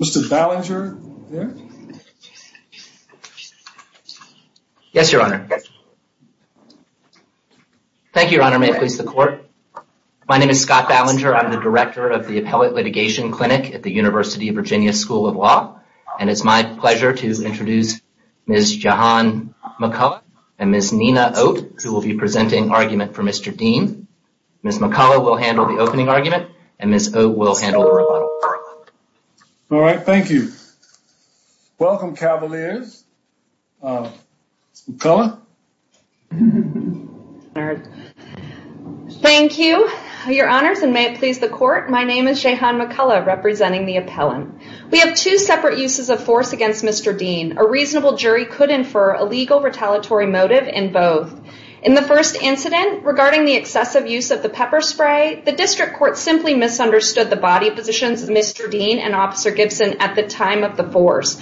Mr. Ballinger Yes, your honor Thank you your honor may it please the court My name is Scott Ballinger I'm the director of the appellate litigation clinic at the University of Virginia School of Law and it's my pleasure to introduce Ms. Jahan McCullough and Ms. Nina Oat who will be presenting argument for Mr. Dean Ms. McCullough will handle the opening argument and Ms. Oat will handle the rebuttal. All right, thank you Welcome Cavaliers Ms. McCullough Thank you your honors and may it please the court my name is Jahan McCullough representing the appellant We have two separate uses of force against Mr. Dean a reasonable jury could infer a legal retaliatory motive in both in the first Incident regarding the excessive use of the pepper spray the district court simply misunderstood the body positions of Mr. Dean and officer Gibson at the time of the force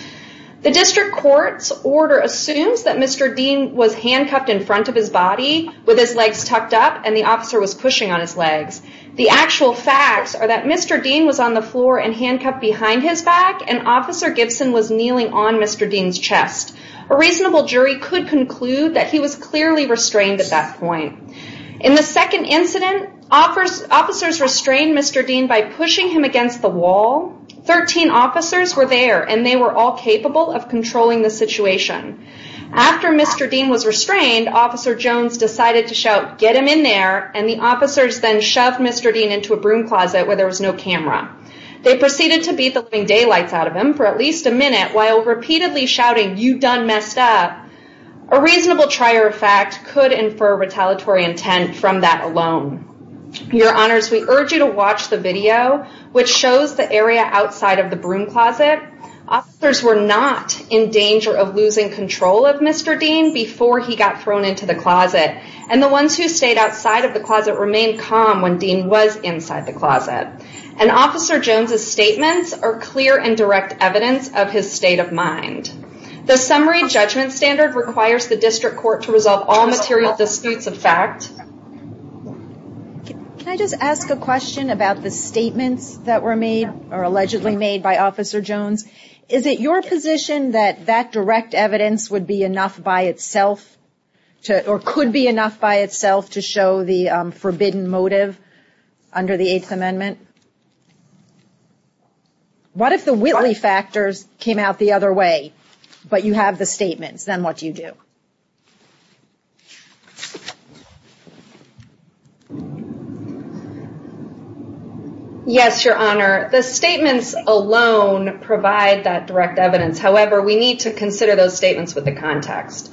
the district court's order assumes that Mr Dean was handcuffed in front of his body with his legs tucked up and the officer was pushing on his legs The actual facts are that Mr. Dean was on the floor and handcuffed behind his back and officer Gibson was kneeling on Mr Dean's chest a reasonable jury could conclude that he was clearly restrained at that point in the second incident Officers restrained Mr. Dean by pushing him against the wall 13 officers were there and they were all capable of controlling the situation After Mr. Dean was restrained officer Jones decided to shout get him in there and the officers then shoved Mr. Dean into a broom closet where there was no camera they proceeded to beat the living daylights out of him for at least a minute while repeatedly shouting you done messed up a Reasonable trier of fact could infer retaliatory intent from that alone Your honors we urge you to watch the video which shows the area outside of the broom closet Officers were not in danger of losing control of Mr Dean before he got thrown into the closet and the ones who stayed outside of the closet remained calm when Dean was inside the closet and Officer Jones's statements are clear and direct evidence of his state of mind The summary judgment standard requires the district court to resolve all material disputes of fact Can I just ask a question about the statements that were made or allegedly made by officer Jones Is it your position that that direct evidence would be enough by itself? To or could be enough by itself to show the forbidden motive under the Eighth Amendment What if the Whitley factors came out the other way but you have the statements then what do you do Yes Your honor the statements alone provide that direct evidence However, we need to consider those statements with the context.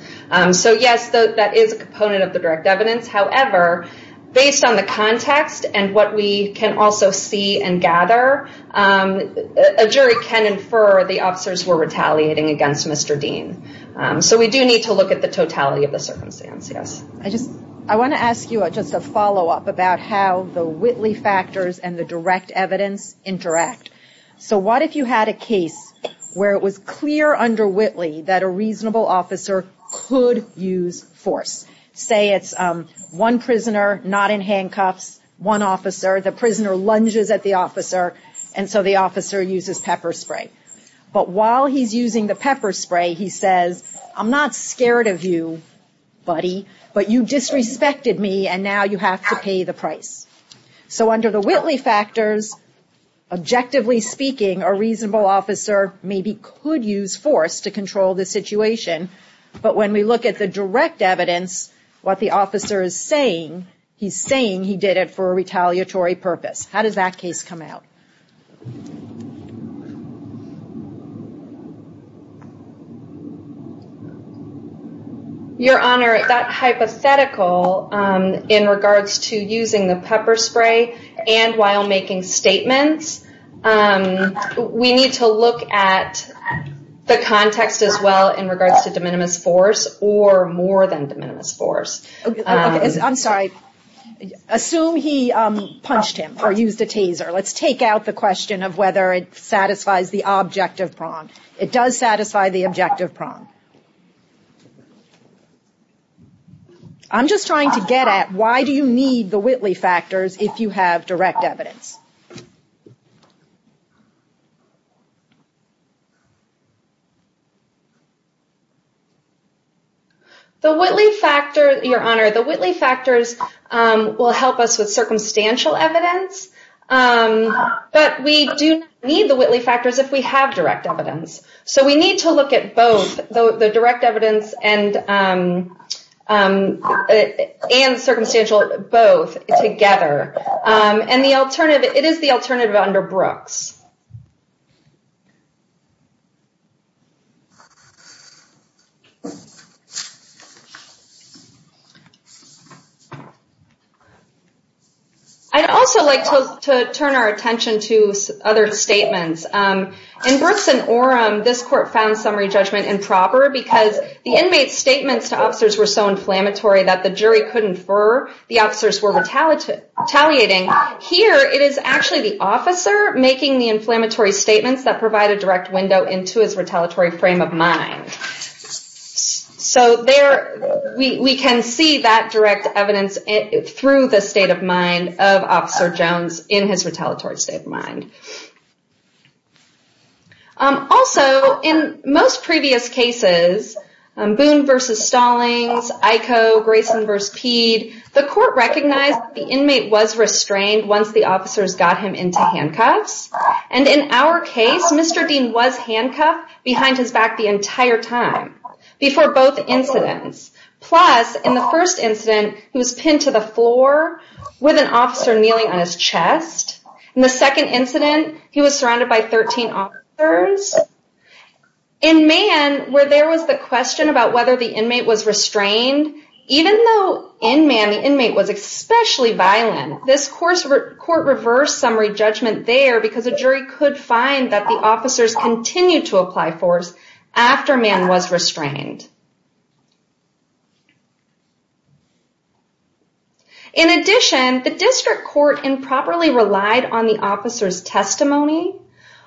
So yes, that is a component of the direct evidence however Based on the context and what we can also see and gather A jury can infer the officers were retaliating against. Mr. Dean So we do need to look at the totality of the circumstance Yes, I just I want to ask you a just a follow-up about how the Whitley factors and the direct evidence Interact. So what if you had a case where it was clear under Whitley that a reasonable officer could use force? Say it's one prisoner not in handcuffs one officer The prisoner lunges at the officer and so the officer uses pepper spray But while he's using the pepper spray, he says I'm not scared of you Buddy, but you disrespected me and now you have to pay the price So under the Whitley factors Objectively speaking a reasonable officer maybe could use force to control the situation But when we look at the direct evidence What the officer is saying he's saying he did it for a retaliatory purpose. How does that case come out? Your Honor that hypothetical in regards to using the pepper spray and while making statements We need to look at The context as well in regards to de minimis force or more than de minimis force I'm sorry Assume he punched him or used a taser Let's take out the question of whether it satisfies the objective prong. It does satisfy the objective prong I'm just trying to get at why do you need the Whitley factors if you have direct evidence? The Whitley factor your honor the Whitley factors will help us with circumstantial evidence But we do need the Whitley factors if we have direct evidence, so we need to look at both the direct evidence and and Circumstantial both together and the alternative it is the alternative under Brooks I'd also like to turn our attention to other statements In person or um This court found summary judgment improper because the inmate statements to officers were so inflammatory that the jury couldn't for the officers were Retaliating here. It is actually the officer making the inflammatory statements that provide a direct window into his retaliatory frame of mind So there we can see that direct evidence Through the state of mind of officer Jones in his retaliatory state of mind Also in most previous cases Boone versus Stallings I co Grayson verse peed the court recognized the inmate was Restrained once the officers got him into handcuffs and in our case, mr Dean was handcuffed behind his back the entire time before both incidents Plus in the first incident who was pinned to the floor with an officer kneeling on his chest In the second incident, he was surrounded by 13 offers in Man, where there was the question about whether the inmate was restrained Even though in man the inmate was especially violent this course Court reversed summary judgment there because a jury could find that the officers continue to apply force After man was restrained In Addition the district court improperly relied on the officers testimony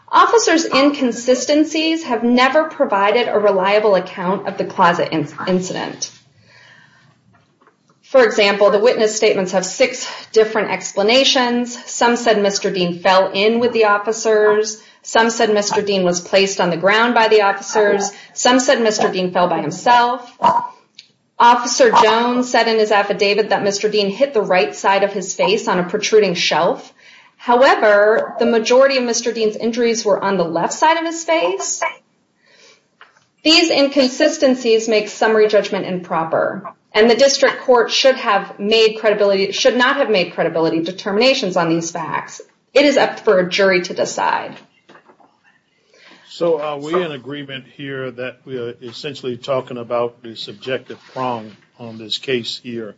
Officers inconsistencies have never provided a reliable account of the closet incident For example, the witness statements have six different explanations some said mr. Dean fell in with the officers Some said mr. Dean was placed on the ground by the officers some said mr. Dean fell by himself Officer Jones said in his affidavit that mr. Dean hit the right side of his face on a protruding shelf However, the majority of mr. Dean's injuries were on the left side of his face These Inconsistencies make summary judgment improper and the district court should have made credibility should not have made credibility Determinations on these facts it is up for a jury to decide So are we in agreement here that we are essentially talking about the subjective prong on this case here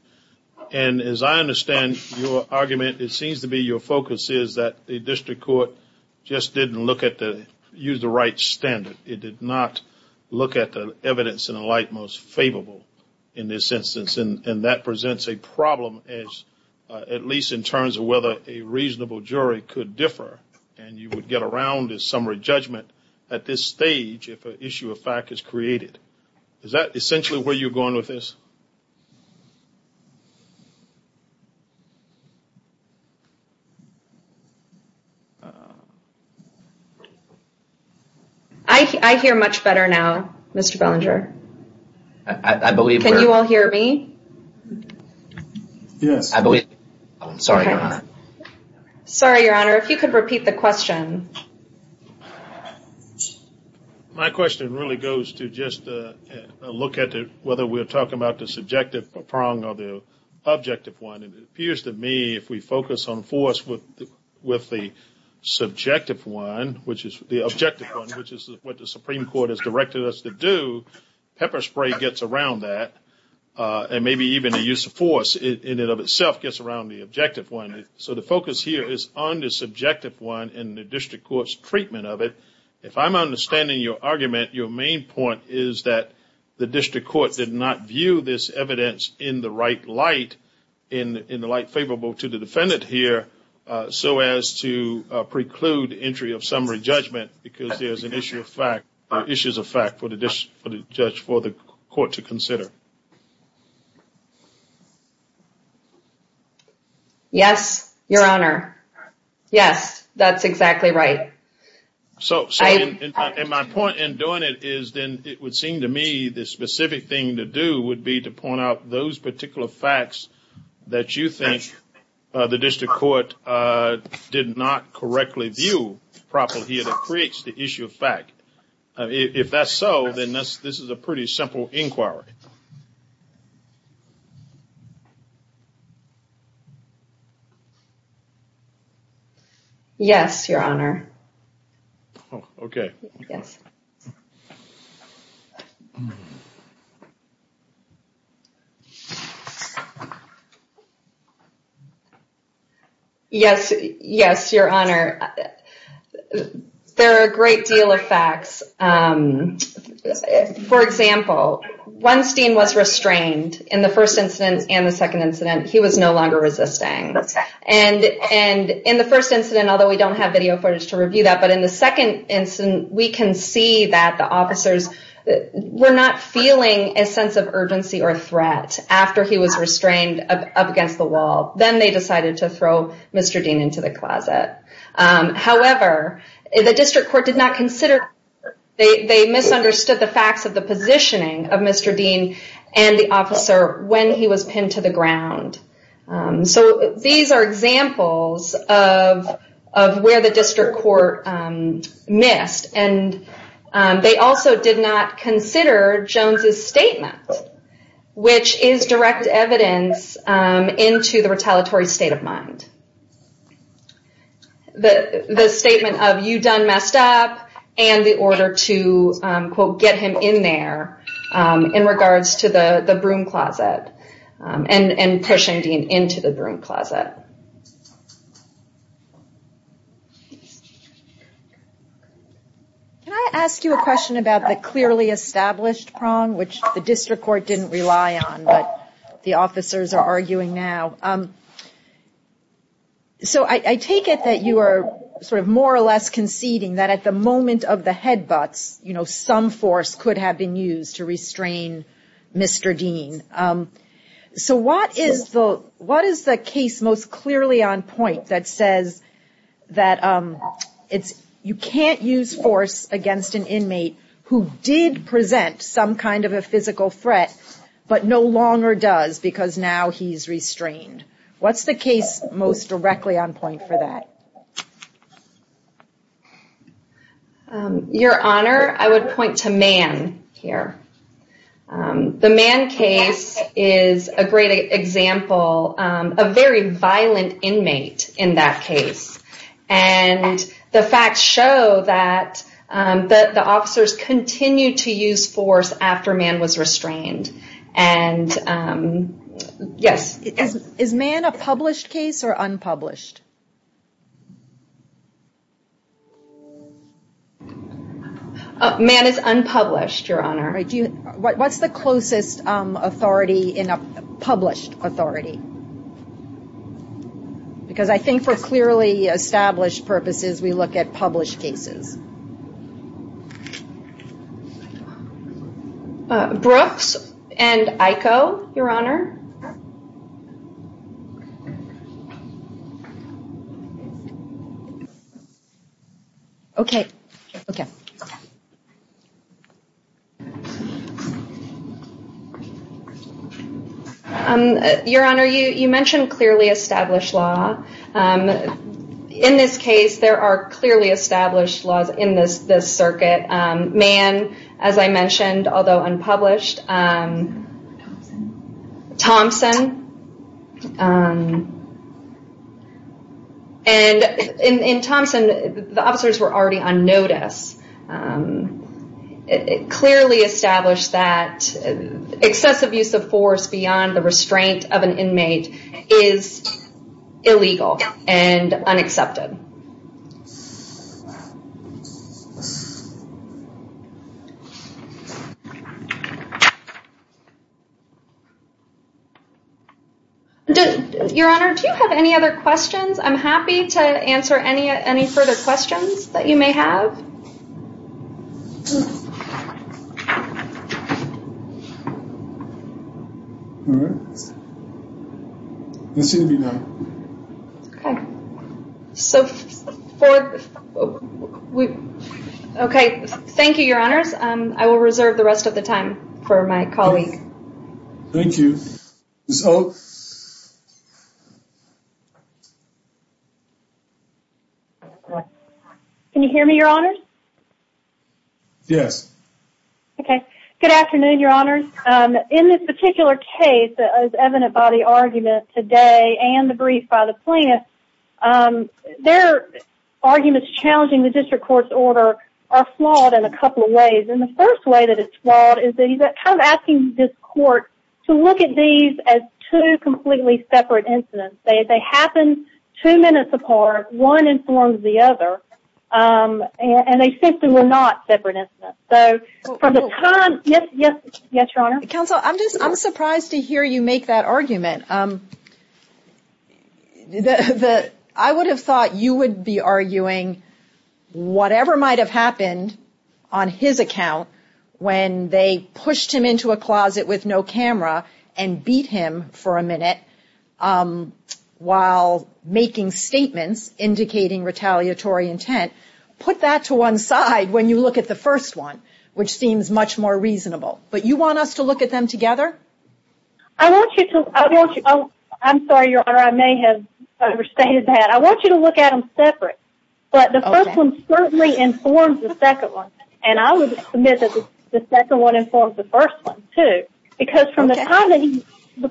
and As I understand your argument, it seems to be your focus Is that the district court just didn't look at the use the right standard? It did not look at the evidence in a light most favorable in this instance and that presents a problem as At least in terms of whether a reasonable jury could differ and you would get around as summary judgment at this stage If an issue of fact is created, is that essentially where you're going with this? I hear much better now. Mr. Belanger. I believe you all hear me Yes, I'm sorry, I'm sorry your honor if you could repeat the question My question really goes to just look at whether we're talking about the subjective prong or the objective one and it appears to me if we focus on force with with the Subjective one, which is the objective one, which is what the Supreme Court has directed us to do pepper spray gets around that And maybe even a use of force in it of itself gets around the objective one So the focus here is on this objective one in the district courts treatment of it If I'm understanding your argument your main point is that the district court did not view this evidence in the right light in in the light favorable to the defendant here so as to preclude entry of summary judgment because there's an issue of fact issues of fact for the judge for the court to consider Yes Yes, your honor Yes, that's exactly right So in my point in doing it is then it would seem to me the specific thing to do would be to point out those particular facts that you think the district court Did not correctly view properly here that creates the issue of fact If that's so then this this is a pretty simple inquiry Yes Yes, your honor, okay Yes, yes your honor There are a great deal of facts For example Weinstein was restrained in the first instance and the second incident. He was no longer resisting and And in the first incident, although we don't have video footage to review that but in the second incident we can see that the officers Were not feeling a sense of urgency or threat after he was restrained up against the wall Then they decided to throw mr. Dean into the closet however, the district court did not consider They misunderstood the facts of the positioning of mr. Dean and the officer when he was pinned to the ground so these are examples of where the district court missed and They also did not consider Jones's statement Which is direct evidence into the retaliatory state of mind The the statement of you done messed up and the order to Quote get him in there In regards to the the broom closet and and pushing Dean into the broom closet Can I ask you a question about the clearly established prong which the district court didn't rely on but the officers are arguing now So I take it that you are sort of more or less conceding that at the moment of the headbutts You know some force could have been used to restrain Mr. Dean So what is the what is the case most clearly on point that says? that It's you can't use force against an inmate who did present some kind of a physical threat But no longer does because now he's restrained what's the case most directly on point for that? Your honor I would point to man here the man case is a great example a very violent inmate in that case and the facts show that But the officers continue to use force after man was restrained and Yes, is man a published case or unpublished Man is unpublished your honor. I do what's the closest authority in a published authority? Because I think for clearly established purposes we look at published cases I Brooks and I co your honor Okay, okay Your honor you you mentioned clearly established law In this case there are clearly established laws in this this circuit man as I mentioned although unpublished Thompson And In Thompson the officers were already on notice It clearly established that excessive use of force beyond the restraint of an inmate is Illegal and unaccepted Did your honor do you have any other questions, I'm happy to answer any any further questions that you may have So Okay, thank you your honors and I will reserve the rest of the time for my colleague, thank you Can you hear me your honor Yes Okay, good afternoon. Your honors in this particular case as evident by the argument today and the brief by the plaintiff their Arguments challenging the district courts order are flawed in a couple of ways And the first way that it's flawed is that you've got kind of asking this court to look at these as two Completely separate incidents they they happen two minutes apart one informs the other And they simply were not separate incidents so from the time yes, yes, yes your honor counsel I'm just I'm surprised to hear you make that argument The the I would have thought you would be arguing Whatever might have happened on his account when they pushed him into a closet with no camera and beat him for a minute While making statements Indicating retaliatory intent put that to one side when you look at the first one, which seems much more reasonable But you want us to look at them together. I Want you to I want you. Oh, I'm sorry your honor. I may have overstated that I want you to look at them separate But the first one certainly informs the second one and I would submit that the second one informs the first one too because from the time that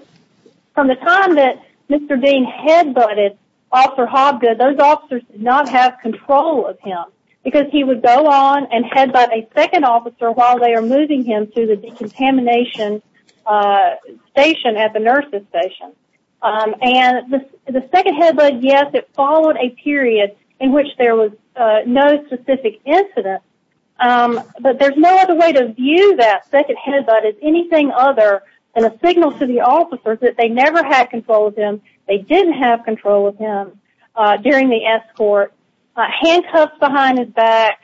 From the time that mr. Dean head-butted Officer Hobgood those officers did not have control of him Because he would go on and head by a second officer while they are moving him to the decontamination Station at the nurses station And the second head but yes, it followed a period in which there was no specific incident But there's no other way to view that second head But it's anything other than a signal to the officers that they never had control of him. They didn't have control of him during the escort handcuffs behind his back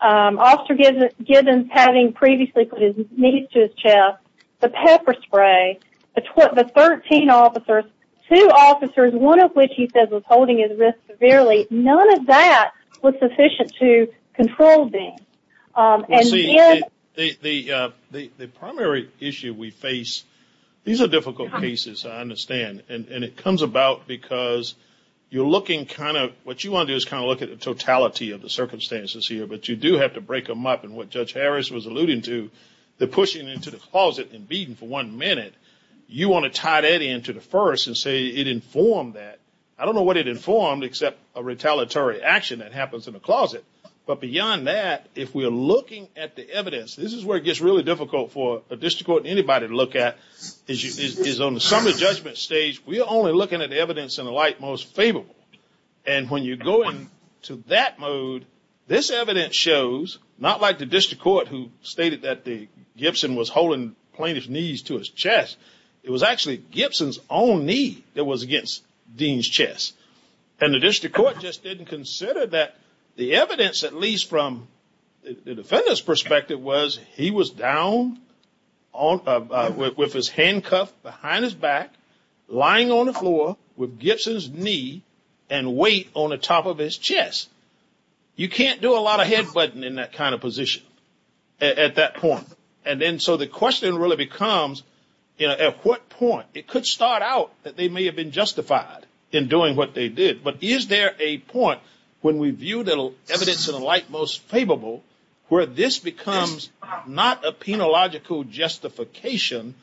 Officer gives it givens having previously put his knees to his chest the pepper spray But what the 13 officers two officers one of which he says was holding his wrist severely none of that What's sufficient to control being? The primary issue we face these are difficult cases I understand and it comes about because You're looking kind of what you want to do is kind of look at the totality of the circumstances here But you do have to break them up and what judge Harris was alluding to They're pushing into the closet and beating for one minute You want to tie that in to the first and say it informed that I don't know what it informed except a retaliatory Action that happens in the closet, but beyond that if we are looking at the evidence This is where it gets really difficult for a district court anybody to look at is you is on the summit judgment stage We are only looking at evidence in the light most favorable and when you go in to that mode This evidence shows not like the district court who stated that the Gibson was holding plaintiff's knees to his chest It was actually Gibson's own knee that was against Dean's chest And the district court just didn't consider that the evidence at least from Defenders perspective was he was down on With his handcuff behind his back lying on the floor with Gibson's knee and weight on the top of his chest You can't do a lot of head-butting in that kind of position At that point and then so the question really becomes you know at what point it could start out that they may have been Justified in doing what they did, but is there a point when we view little evidence in the light most favorable Where this becomes not a penological? justification,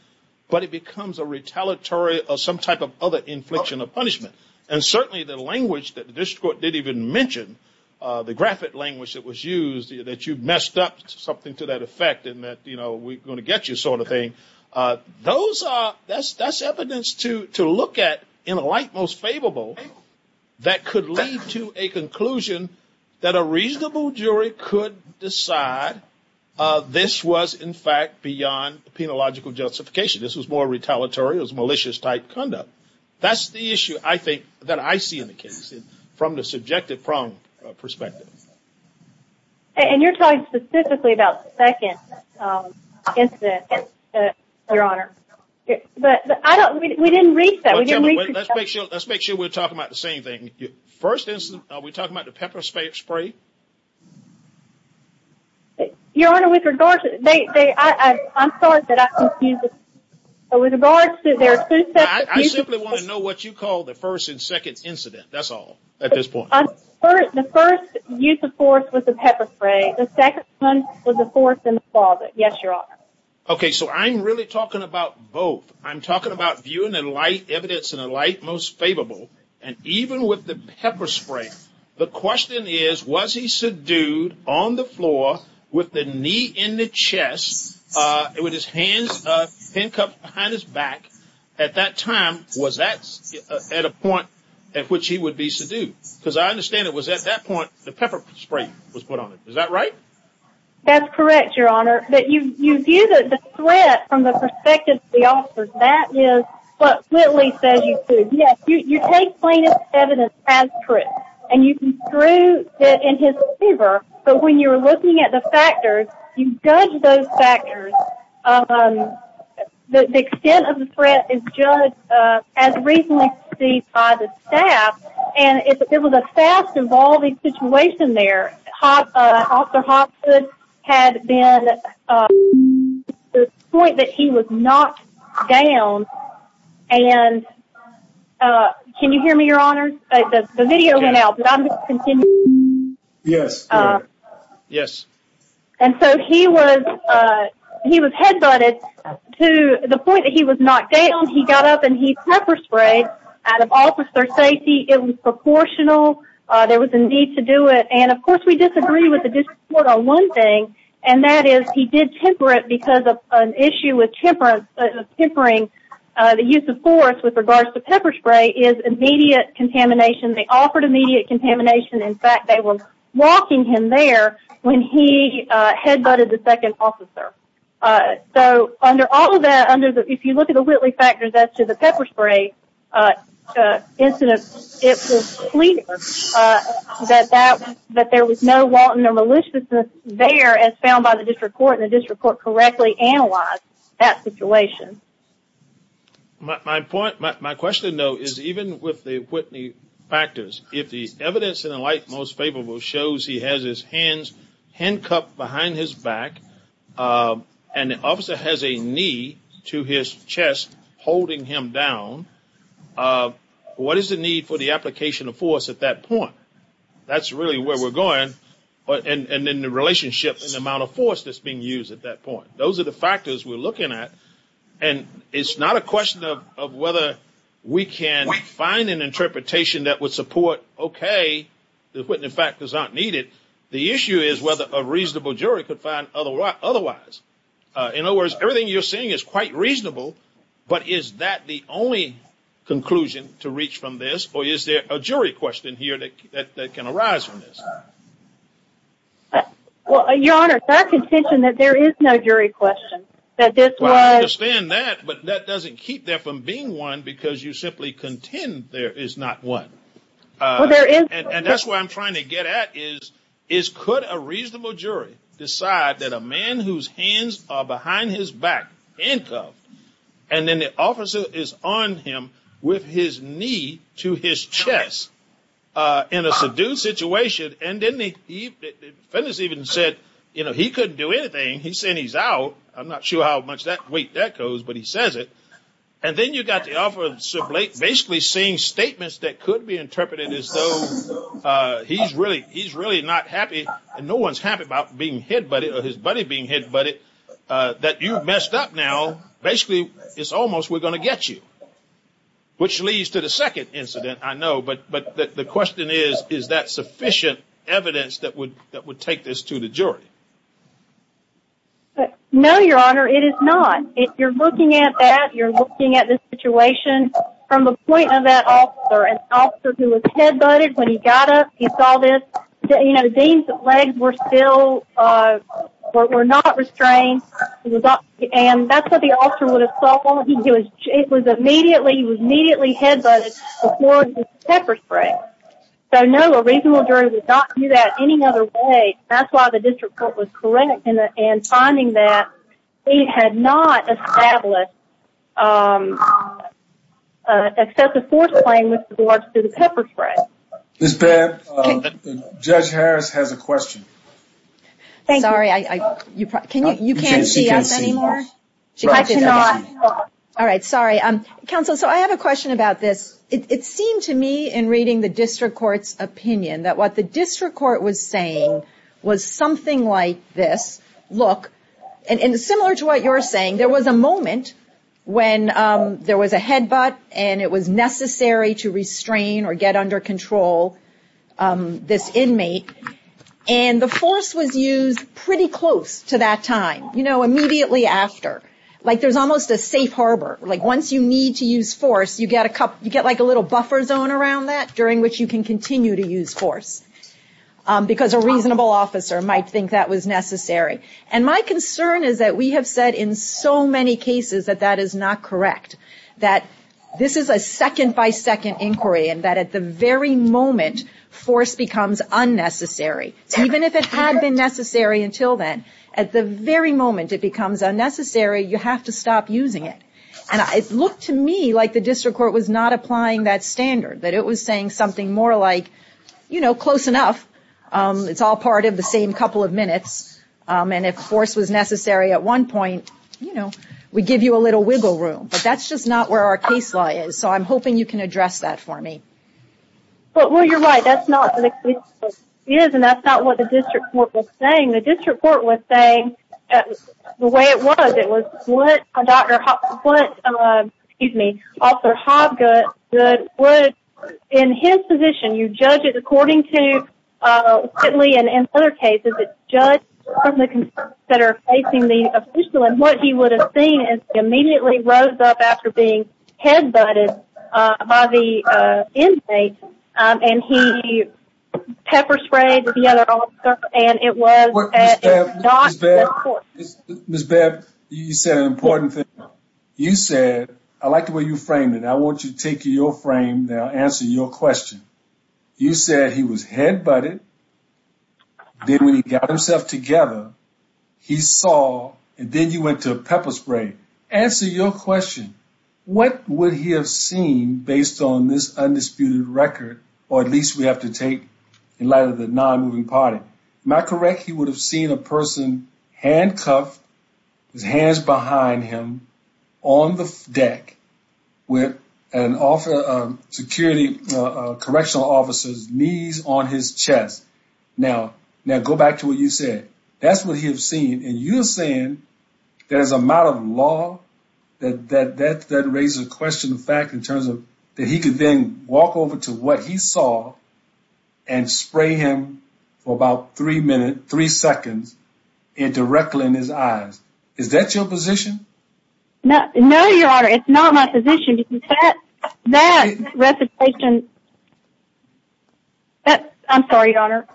but it becomes a retaliatory of some type of other infliction of punishment and certainly the language that the district court did even Mention the graphic language that was used that you've messed up something to that effect and that you know We're going to get you sort of thing Those are that's that's evidence to to look at in a light most favorable That could lead to a conclusion that a reasonable jury could decide This was in fact beyond the penological justification. This was more retaliatory as malicious type conduct That's the issue. I think that I see in the case from the subjective prong perspective And you're talking specifically about second Incident Your honor, but I don't we didn't reach that we didn't make sure let's make sure we're talking about the same thing First isn't we talking about the pepper spray spray? Your honor with regard to they I'm sorry that I can't use it With regards to their food that I simply want to know what you call the first and second incident That's all at this point The first use of force with the pepper spray the second one was a force in the closet. Yes, your honor Okay, so I'm really talking about both I'm talking about viewing and light evidence in a light most favorable and even with the pepper spray The question is was he subdued on the floor with the knee in the chest It was his hands Behind his back at that time was that At a point at which he would be subdued because I understand it was at that point the pepper spray was put on it Is that right? That's correct. Your honor that you you do that the threat from the perspective the office that is what really says you Do yes, you take plain evidence as truth and you can prove that in his fever But when you're looking at the factors you judge those factors The Extent of the threat is judged as recently see by the staff and it was a fast-evolving situation there officer Hopson had been The point that he was knocked down and Can you hear me your honor the video now Yes Yes, and so he was He was headbutted To the point that he was knocked down. He got up and he pepper sprayed out of officer safety. It was proportional There was a need to do it and of course we disagree with the Dispute on one thing and that is he did temper it because of an issue with temperance tempering The use of force with regards to pepper spray is immediate contamination. They offered immediate contamination In fact, they were walking him there when he headbutted the second officer So under all of that under the if you look at the Whitley factors as to the pepper spray Incidents That that that there was no wanton or maliciousness there as found by the district court in the district court correctly analyzed that situation My point my question though is even with the Whitney Factors if the evidence in the light most favorable shows he has his hands handcuffed behind his back And the officer has a knee to his chest holding him down What is the need for the application of force at that point That's really where we're going but and and in the relationship in the amount of force that's being used at that point those are the factors we're looking at and It's not a question of whether we can find an interpretation that would support Okay, the Whitney factors aren't needed. The issue is whether a reasonable jury could find otherwise In other words, everything you're saying is quite reasonable. But is that the only Conclusion to reach from this or is there a jury question here that can arise from this? Well, your honor that contention that there is no jury question that this Stand that but that doesn't keep there from being one because you simply contend. There is not one There is and that's why I'm trying to get at is is could a reasonable jury decide that a man whose hands are behind his back handcuffed and Then the officer is on him with his knee to his chest In a subdued situation and didn't he even said, you know, he couldn't do anything he said he's out I'm not sure how much that weight that goes but he says it and then you got the offer of sublate basically seeing Statements that could be interpreted as though He's really he's really not happy and no one's happy about being hit buddy or his buddy being hit buddy That you've messed up now. Basically, it's almost we're going to get you Which leads to the second incident, I know but but the question is is that sufficient evidence that would that would take this to the jury? No, your honor it is not if you're looking at that you're looking at this situation From the point of that off or an officer who was head-butted when he got up. He saw this, you know, the deans of legs were still We're not restrained And that's what the officer would have thought he was it was immediately he was immediately head-butted pepper-spray So no a reasonable jury would not do that any other way That's why the district court was correct in it and finding that he had not established Excessive force playing with the boards to the pepper spray this bad Judge Harris has a question Thank you, sorry, I you can't see us anymore All right, sorry, um counsel So I have a question about this it seemed to me in reading the district courts Opinion that what the district court was saying was something like this look and in similar to what you're saying There was a moment when there was a headbutt and it was necessary to restrain or get under control This inmate and The force was used pretty close to that time, you know immediately after like there's almost a safe harbor Like once you need to use force you get a cup you get like a little buffer zone around that during which you can continue to use force Because a reasonable officer might think that was necessary and my concern is that we have said in so many cases that that is not correct that This is a second by second inquiry and that at the very moment force becomes Unnecessary even if it had been necessary until then at the very moment it becomes unnecessary You have to stop using it and I look to me like the district court was not applying that Standard that it was saying something more like, you know close enough It's all part of the same couple of minutes And if force was necessary at one point, you know, we give you a little wiggle room But that's just not where our case law is. So I'm hoping you can address that for me But well, you're right. That's not Yes, and that's not what the district court was saying. The district court was saying The way it was it was what a doctor what? Excuse me. Officer Hobgood would in his position you judge it according to Quickly and in other cases, it's judge That are facing the official and what he would have seen is immediately rose up after being head butted by the inmate and he pepper sprayed the other officer and it was Miss Bev, you said an important thing you said I like the way you framed it I want you to take your frame now answer your question You said he was head, but it Did when he got himself together? He saw and then you went to a pepper spray answer your question What would he have seen based on this undisputed record or at least we have to take in light of the non-moving party? Am I correct? He would have seen a person handcuffed his hands behind him on the deck with an offer of security Correctional officers knees on his chest now now go back to what you said. That's what he has seen and you're saying There's a matter of law that that that that raises a question the fact in terms of that he could then walk over to what he saw and Spray him for about three minutes three seconds Indirectly in his eyes. Is that your position? No, no your honor, it's not my position that that recitation That I'm sorry your honor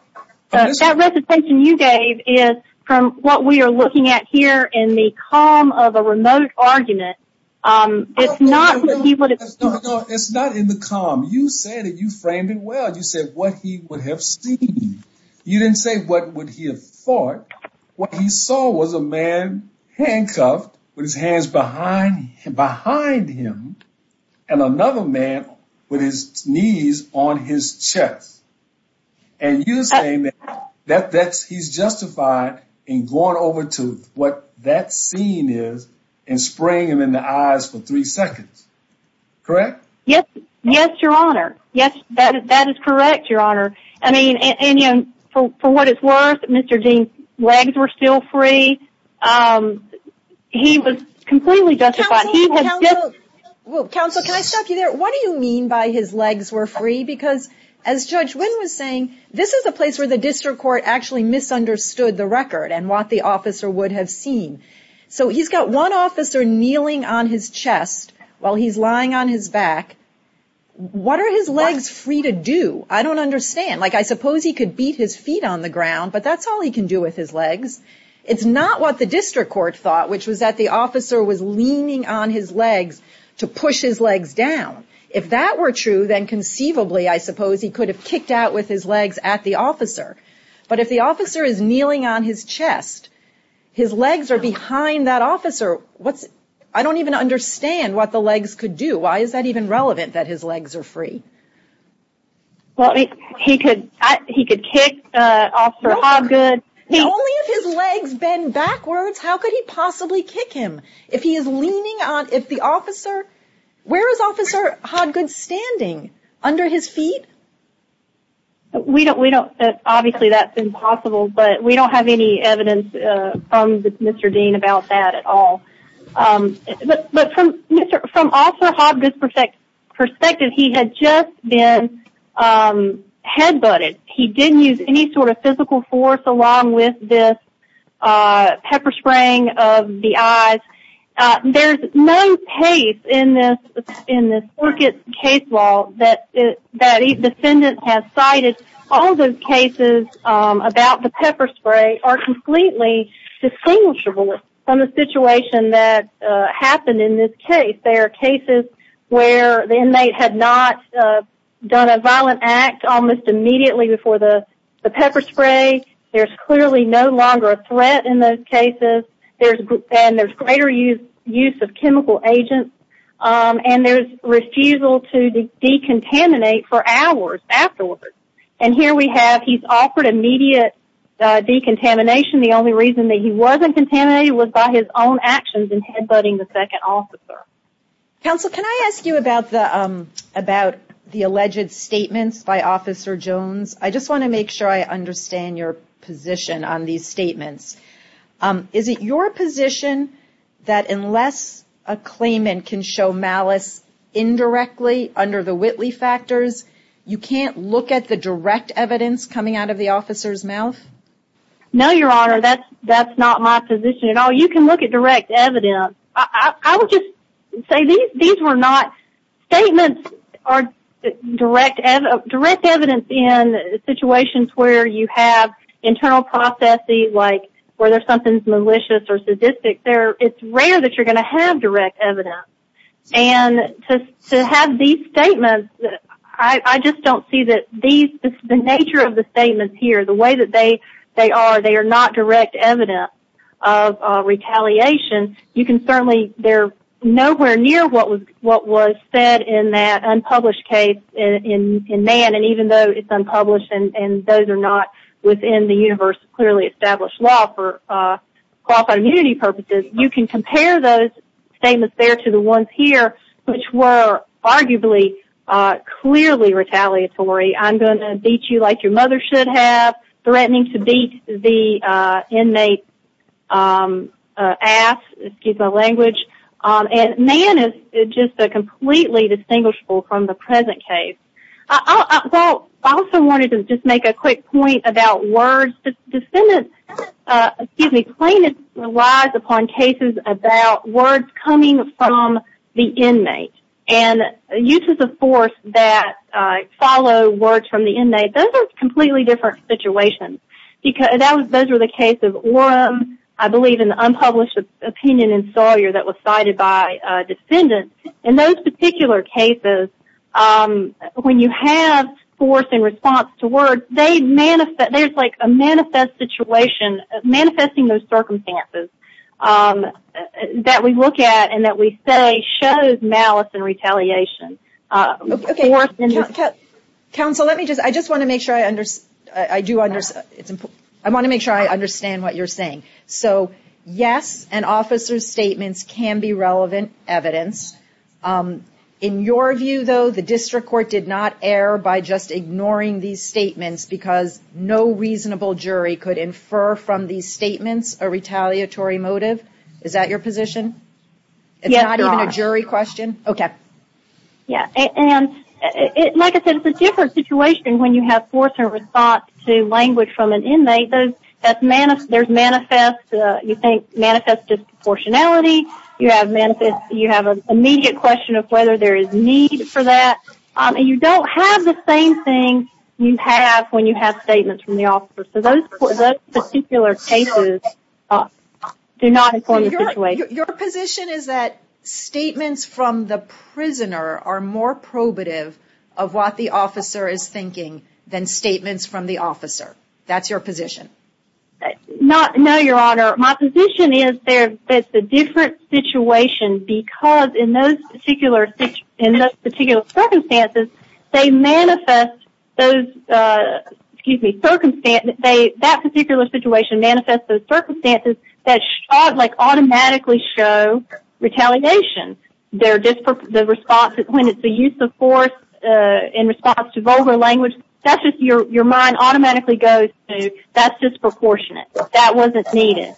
That recitation you gave is from what we are looking at here in the calm of a remote argument It's not he would it's not in the calm. You say that you framed it Well, you said what he would have seen you didn't say what would he have thought what he saw was a man? Handcuffed with his hands behind behind him and another man with his knees on his chest and You say that that that's he's justified in going over to what that scene is and Spraying him in the eyes for three seconds Correct. Yes. Yes, your honor. Yes, that is correct. Your honor. I mean Indian for what it's worth. Mr Dean's legs were still free He was completely justified Counsel can I stop you there? What do you mean by his legs were free because as Judge Wynn was saying this is a place where the district court actually Misunderstood the record and what the officer would have seen so he's got one officer kneeling on his chest while he's lying on his back What are his legs free to do? I don't understand like I suppose he could beat his feet on the ground But that's all he can do with his legs It's not what the district court thought which was that the officer was leaning on his legs to push his legs down If that were true, then conceivably I suppose he could have kicked out with his legs at the officer But if the officer is kneeling on his chest His legs are behind that officer. What's I don't even understand what the legs could do Why is that even relevant that his legs are free? Well, I mean he could he could kick Officer Hodgood His legs bend backwards. How could he possibly kick him if he is leaning on if the officer? Where is officer Hodgood standing under his feet? We don't we don't obviously that's impossible, but we don't have any evidence from Mr. Dean about that at all But from from officer Hodgood's perspective perspective he had just been Headbutted he didn't use any sort of physical force along with this pepper spraying of the eyes There's no case in this in this Orchids case law that that Defendant has cited all those cases about the pepper spray are completely Distinguishable from the situation that Happened in this case. There are cases where the inmate had not Done a violent act almost immediately before the the pepper spray There's clearly no longer a threat in those cases. There's and there's greater use use of chemical agents and there's refusal to decontaminate for hours afterwards and here we have he's offered immediate Decontamination the only reason that he wasn't contaminated was by his own actions in headbutting the second officer Counsel, can I ask you about the about the alleged statements by officer Jones? I just want to make sure I understand your position on these statements Is it your position that unless a claimant can show malice? Indirectly under the Whitley factors, you can't look at the direct evidence coming out of the officer's mouth No, your honor. That's that's not my position at all. You can look at direct evidence. I would just say these these were not statements are direct as a direct evidence in Situations where you have internal processes like where there's something malicious or sadistic there it's rare that you're going to have direct evidence and To have these statements that I just don't see that these the nature of the statements here the way that they they are they are not direct evidence of Retaliation you can certainly they're nowhere near what was what was said in that unpublished case in Man, and even though it's unpublished and those are not within the universe clearly established law for Immunity purposes you can compare those statements there to the ones here, which were arguably Clearly retaliatory. I'm going to beat you like your mother should have threatening to beat the inmate Ass excuse my language and man is just a completely distinguishable from the present case Well, I also wanted to just make a quick point about words the defendant Excuse me claimant relies upon cases about words coming from the inmate and uses of force that Follow words from the inmate those are completely different situations Because that was those were the case of Oram. I believe in the unpublished opinion in Sawyer that was cited by defendants in those particular cases When you have force in response to word they manifest that there's like a manifest situation manifesting those circumstances That we look at and that we say shows malice and retaliation Counsel let me just I just want to make sure I understand I do understand It's important. I want to make sure I understand what you're saying so yes and officers statements can be relevant evidence In your view though the district court did not err by just ignoring these statements because no Reasonable jury could infer from these statements a retaliatory motive. Is that your position? Yeah, not even a jury question, okay? Yeah, and it like I said it's a different situation when you have for service thought to language from an inmate There's manifest you think manifest Disproportionality you have manifest you have an immediate question of whether there is need for that And you don't have the same thing you have when you have statements from the officer so those particular cases Do not inform the situation. Your position is that Statements from the prisoner are more probative of what the officer is thinking than statements from the officer That's your position Not know your honor my position is there It's a different situation because in those particular in this particular circumstances. They manifest those Excuse me circumstance. They that particular situation manifests those circumstances that shot like automatically show Retaliation they're just for the responses when it's the use of force In response to vulgar language, that's just your your mind automatically goes to that's disproportionate that wasn't needed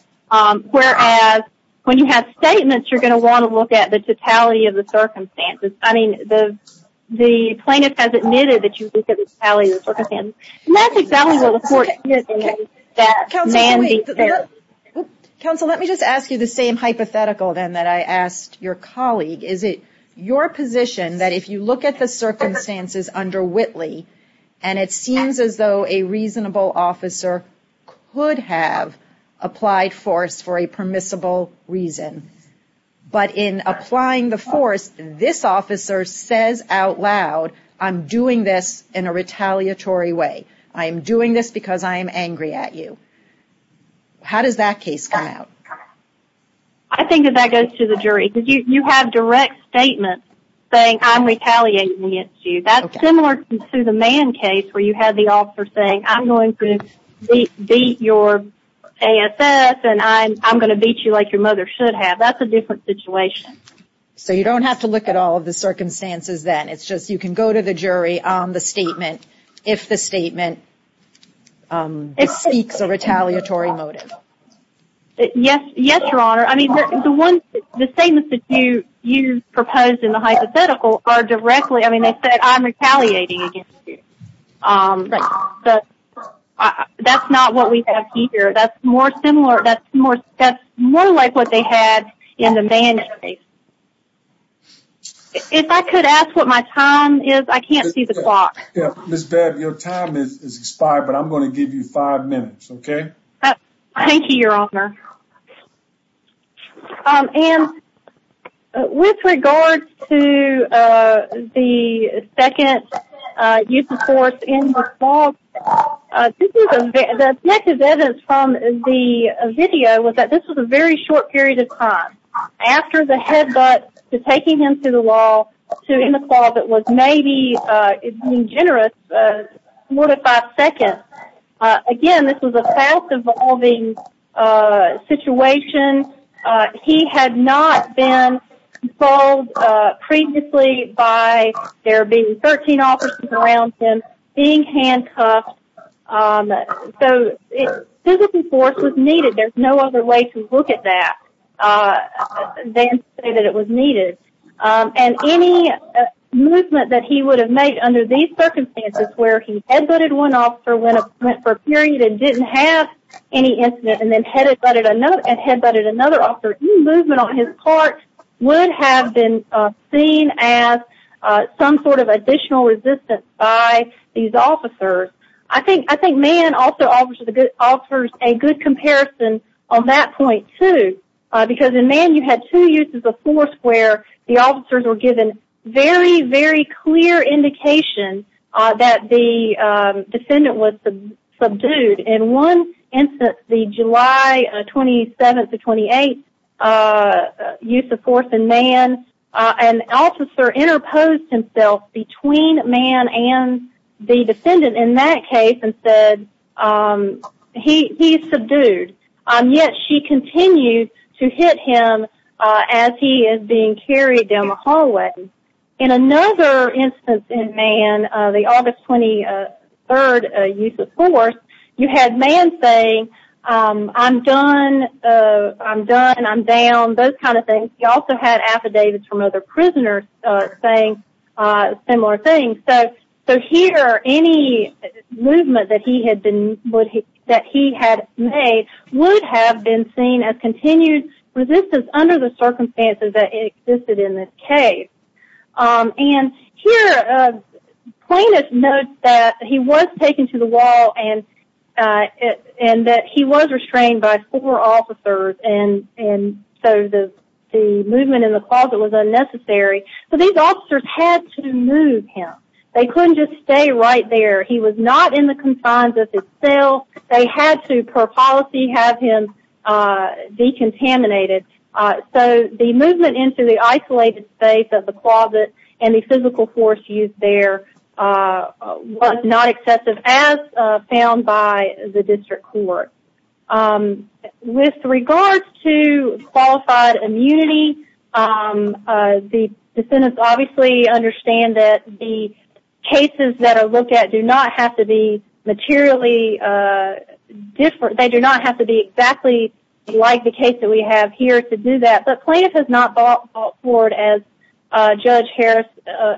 whereas when you have statements you're going to want to look at the totality of the circumstances, I mean the Plaintiff has admitted that you Counsel let me just ask you the same hypothetical then that I asked your colleague Is it your position that if you look at the circumstances under Whitley and it seems as though a reasonable officer could have applied force for a permissible reason But in applying the force this officer says out loud. I'm doing this in a retaliatory way I am doing this because I am angry at you How does that case come out? I? Statement saying I'm retaliating against you that's similar to the man case where you had the officer saying I'm going to beat your Ass and I'm I'm gonna beat you like your mother should have that's a different situation So you don't have to look at all of the circumstances then it's just you can go to the jury on the statement if the statement Seeks a retaliatory motive Yes, yes, your honor, I mean the one the statements that you you proposed in the hypothetical are directly I mean they said I'm retaliating But That's not what we have here. That's more similar. That's more. That's more like what they had in the man If I could ask what my time is I can't see the clock This bed your time is expired, but I'm going to give you five minutes, okay, thank you your honor And with regard to the second use of force in the fall That's negative evidence from the video was that this was a very short period of time After the headbutt to taking him to the wall to in the closet was maybe generous What if I second? Again, this was a fast-evolving Situation he had not been called Previously by there being 13 officers around him being handcuffed So it physical force was needed. There's no other way to look at that Then say that it was needed and any Movement that he would have made under these circumstances where he had voted one off for when it went for a period and didn't have Any incident and then headed but it another and headbutted another offer movement on his part would have been seen as Some sort of additional resistance by these officers I think I think man also offers the good offers a good comparison on that point, too Because in man you had two uses of force where the officers were given very very clear indication that the Defendant was the subdued in one instance the July 27th to 28th use of force in man and Officer interposed himself between man and the defendant in that case and said He's subdued Yet she continued to hit him as he is being carried down the hallway in another instance in man the August 23rd use of force you had man saying I'm done I'm done and I'm down those kind of things. He also had affidavits from other prisoners saying Similar things so so here any Movement that he had been would he that he had made would have been seen as continued Resistance under the circumstances that existed in this case and here plaintiffs note that he was taken to the wall and and that he was restrained by four officers and and so the Movement in the closet was unnecessary. So these officers had to move him. They couldn't just stay right there He was not in the confines of his cell. They had to per policy have him Decontaminated so the movement into the isolated space of the closet and the physical force used there Was not excessive as found by the district court with regards to unqualified immunity the sentence obviously understand that the cases that are looked at do not have to be materially Different they do not have to be exactly like the case that we have here to do that. But plaintiff has not bought forward as Judge Harris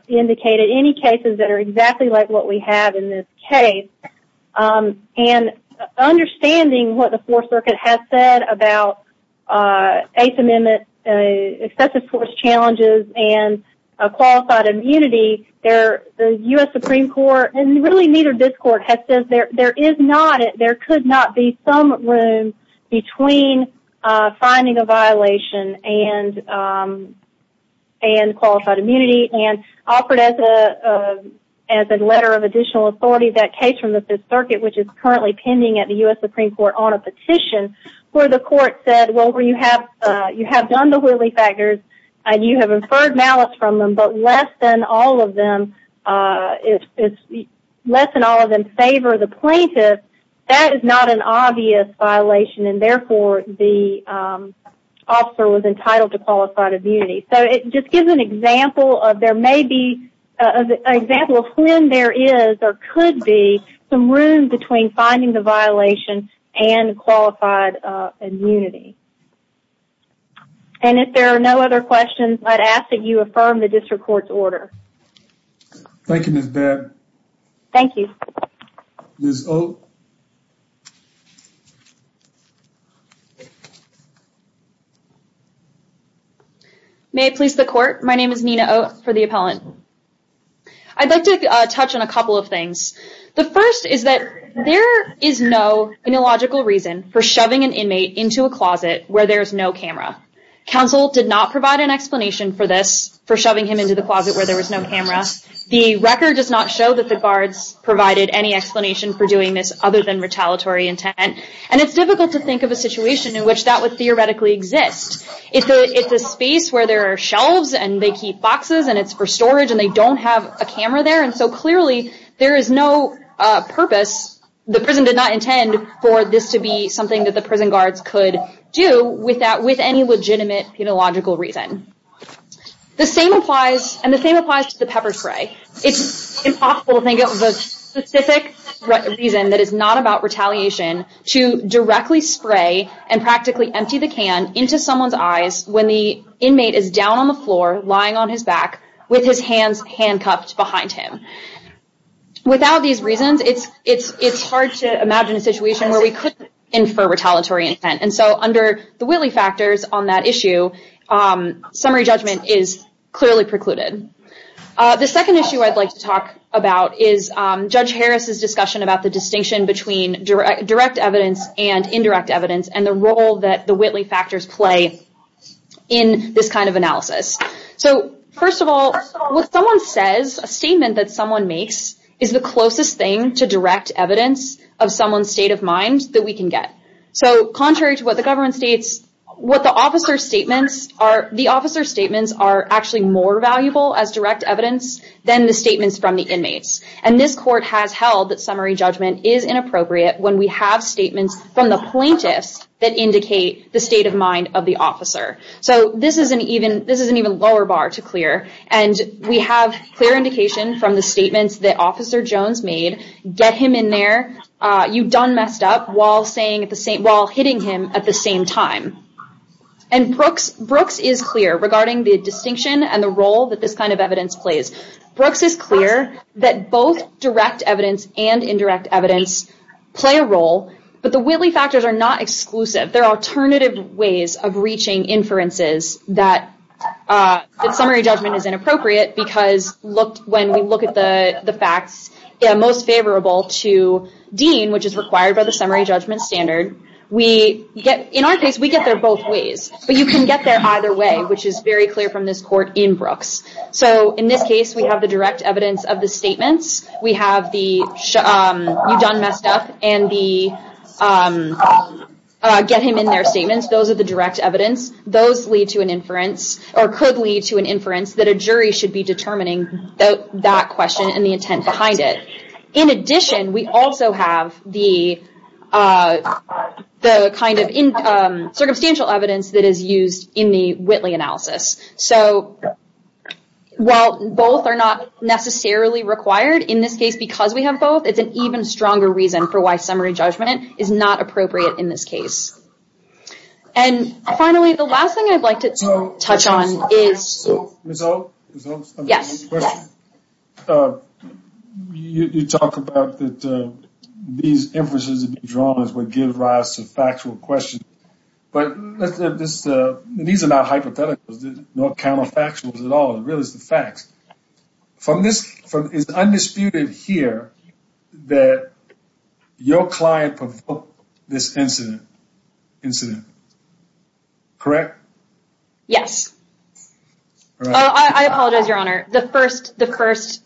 indicated any cases that are exactly like what we have in this case and understanding what the Fourth Circuit has said about Eighth Amendment excessive force challenges and Qualified immunity there the US Supreme Court and really neither this court has since there there is not it there could not be some room between finding a violation and and qualified immunity and offered as a As a letter of additional authority that case from the Fifth Circuit Which is currently pending at the US Supreme Court on a petition where the court said well where you have You have done the willy-faggots and you have inferred malice from them, but less than all of them if less than all of them favor the plaintiff that is not an obvious violation and therefore the Officer was entitled to qualified immunity. So it just gives an example of there may be Example when there is or could be some room between finding the violation and qualified immunity And if there are no other questions, I'd ask that you affirm the district court's order Thank you, Miss Baird. Thank you May I please the court. My name is Nina Oh for the appellant I'd like to touch on a couple of things The first is that there is no Illogical reason for shoving an inmate into a closet where there's no camera Counsel did not provide an explanation for this for shoving him into the closet where there was no cameras The record does not show that the guards provided any explanation for doing this other than retaliatory intent And it's difficult to think of a situation in which that would theoretically exist It's a it's a space where there are shelves and they keep boxes and it's for storage and they don't have a camera there and So clearly there is no Purpose the prison did not intend for this to be something that the prison guards could do with that with any legitimate pedagogical reason The same applies and the same applies to the pepper spray. It's impossible to think of a specific Reason that is not about retaliation to directly spray and practically empty the can into someone's eyes when the Inmate is down on the floor lying on his back with his hands handcuffed behind him Without these reasons. It's it's it's hard to imagine a situation where we could infer retaliatory intent And so under the Whitley factors on that issue Summary judgment is clearly precluded The second issue I'd like to talk about is judge Harris's discussion about the distinction between direct evidence and indirect evidence and the role that the Whitley factors play in This kind of analysis. So first of all, what someone says a statement that someone makes is the closest thing to direct evidence Of someone's state of mind that we can get so contrary to what the government states What the officer's statements are the officer's statements are actually more valuable as direct evidence than the statements from the inmates and this court has held that summary judgment is Inappropriate when we have statements from the plaintiffs that indicate the state of mind of the officer So this isn't even this isn't even lower bar to clear and we have clear indication from the statements that officer Jones made Get him in there You done messed up while saying at the same while hitting him at the same time and Brooks Brooks is clear regarding the distinction and the role that this kind of evidence plays Brooks is clear that both direct evidence and indirect evidence Play a role, but the Whitley factors are not exclusive. There are alternative ways of reaching inferences that The summary judgment is inappropriate because looked when we look at the the facts Most favorable to Dean which is required by the summary judgment standard we get in our case We get there both ways, but you can get there either way, which is very clear from this court in Brooks so in this case, we have the direct evidence of the statements we have the you've done messed up and the Get him in their statements Those are the direct evidence those lead to an inference or could lead to an inference that a jury should be determining That question and the intent behind it in addition we also have the The kind of in circumstantial evidence that is used in the Whitley analysis, so While both are not Necessarily required in this case because we have both it's an even stronger reason for why summary judgment is not appropriate in this case and finally, the last thing I'd like to touch on is So You talk about that These emphases of dramas would give rise to factual question, but this needs about hypotheticals There's no counterfactuals at all. It really is the facts from this from is undisputed here that your client this incident incident Correct. Yes Apologize your honor the first the first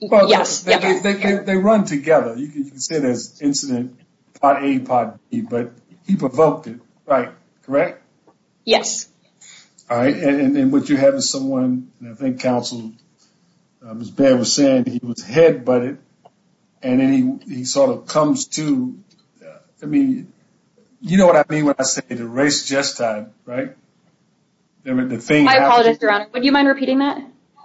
Yes They run together. You can see this incident pot a pot, but he provoked it right, correct? Yes All right. And then what you have is someone I think counsel was bad was saying he was head, but it and then he sort of comes to I mean You know what? I mean when I say the race just time, right? The thing I apologize your honor, would you mind repeating that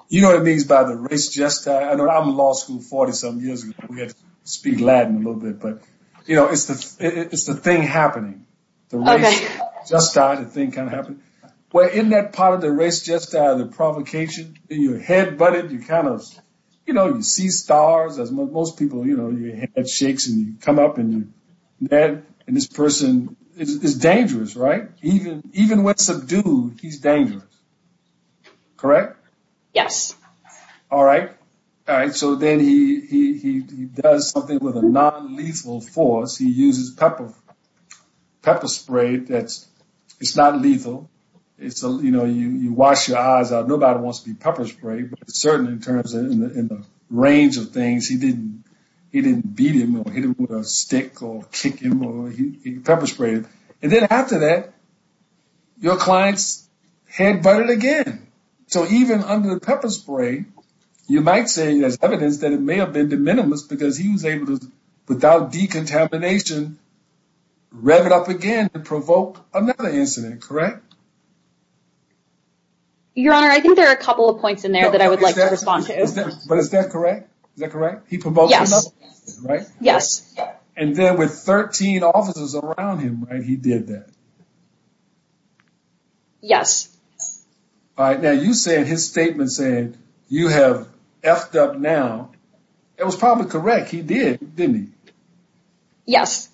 you know what it means by the race just I know I'm lost I'm 40 some years. We have to speak Latin a little bit, but you know, it's the it's the thing happening The race just died the thing kind of happened Well in that part of the race just out of the provocation in your head, but if you kind of you know You see stars as most people, you know, your head shakes and you come up and that and this person is dangerous Right, even even with subdued. He's dangerous Correct. Yes. All right. All right. So then he Does something with a non-lethal force he uses pepper? Pepper spray that's it's not lethal. It's a you know, you you wash your eyes out Nobody wants to be pepper spray, but certainly in terms in the range of things He didn't he didn't beat him or hit him with a stick or kick him Pepper spray and then after that your clients Head butted again. So even under the pepper spray You might say there's evidence that it may have been de minimis because he was able to without decontamination Rev it up again to provoke another incident, correct? Your honor I think there are a couple of points in there that I would like to respond to but is that correct? Is that correct? He promote? Yes Yes, and then with 13 officers around him and he did that Yes All right. Now you said his statement saying you have effed up now. It was probably correct. He did didn't Yes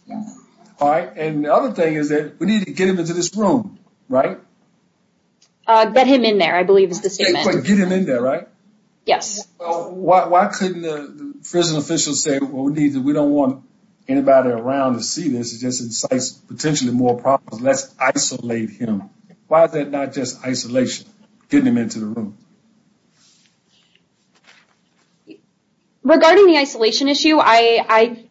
All right. And the other thing is that we need to get him into this room, right? Get him in there. I believe is the same way get him in there, right? Yes Why couldn't the prison officials say what we need that we don't want anybody around to see this is just incites potentially more problems Let's isolate him. Why is that not just isolation getting him into the room? Regarding the isolation issue. I I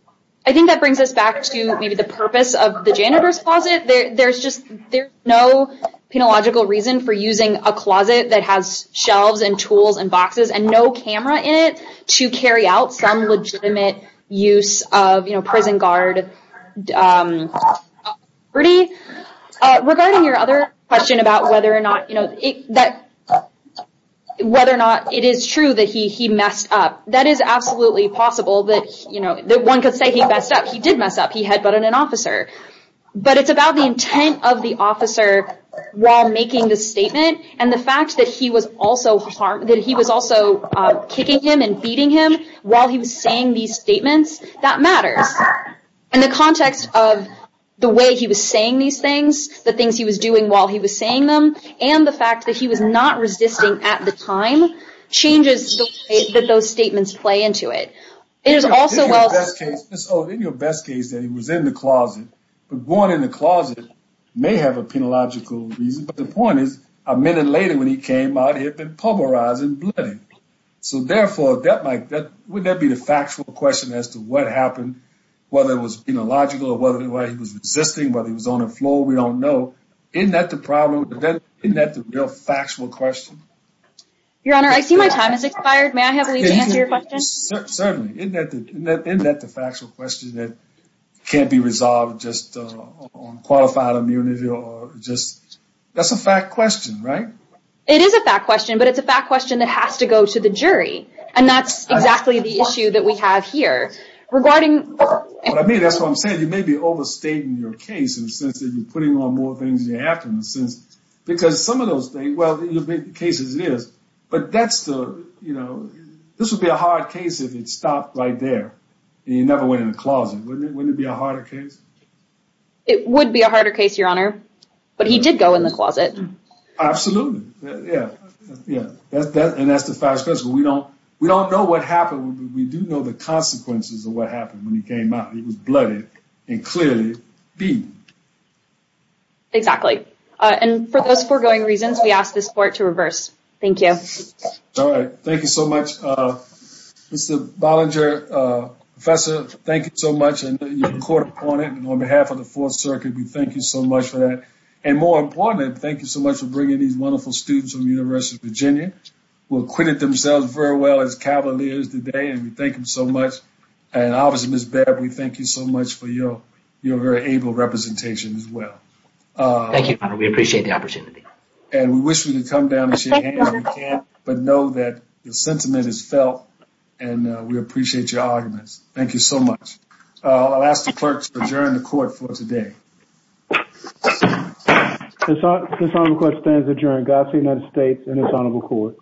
I think that brings us back to maybe the purpose of the janitor's closet There's just there's no Penological reason for using a closet that has shelves and tools and boxes and no camera in it to carry out some legitimate Use of you know prison guard Pretty regarding your other question about whether or not you know that Whether or not it is true that he he messed up that is absolutely possible that you know that one could say he messed up He did mess up. He had but in an officer But it's about the intent of the officer while making the statement and the fact that he was also harmed that he was also Kicking him and beating him while he was saying these statements that matters in the context of The way he was saying these things the things he was doing while he was saying them and the fact that he was not resisting at the time Changes that those statements play into it. It is also In your best case that he was in the closet but going in the closet may have a Penological reason but the point is a minute later when he came out he had been pulverized and bloody So therefore that might that would that be the factual question as to what happened? Whether it was in a logical or whether the way he was resisting whether he was on the floor We don't know in that the problem then in that the real factual question Your honor. I see my time is expired. May I have a leave to answer your question? Certainly in that in that the factual question that can't be resolved just Qualified immunity or just that's a fact question, right? It is a fact question, but it's a fact question that has to go to the jury and that's exactly the issue that we have here Regarding I mean, that's what I'm saying You may be overstating your case in the sense that you're putting on more things you have to in the sense Because some of those things well cases it is but that's the you know This would be a hard case if it stopped right there and you never went in the closet wouldn't it be a harder case It would be a harder case your honor, but he did go in the closet Absolutely. Yeah. Yeah, that's that and that's the fact special. We don't we don't know what happened We do know the consequences of what happened when he came out. He was bloodied and clearly beat Exactly and for those foregoing reasons we ask this court to reverse. Thank you. All right. Thank you so much Mr. Bollinger Professor thank you so much and your court opponent and on behalf of the Fourth Circuit We thank you so much for that and more important. Thank you so much for bringing these wonderful students from the University of Virginia Will acquit it themselves very well as cavaliers today and we thank him so much and obviously miss Beverly Thank you so much for your you're very able representation as well Thank you. We appreciate the opportunity and we wish we could come down But know that the sentiment is felt and we appreciate your arguments. Thank you so much I'll ask the clerks to adjourn the court for today This on the court stands adjourned got the United States and it's honorable court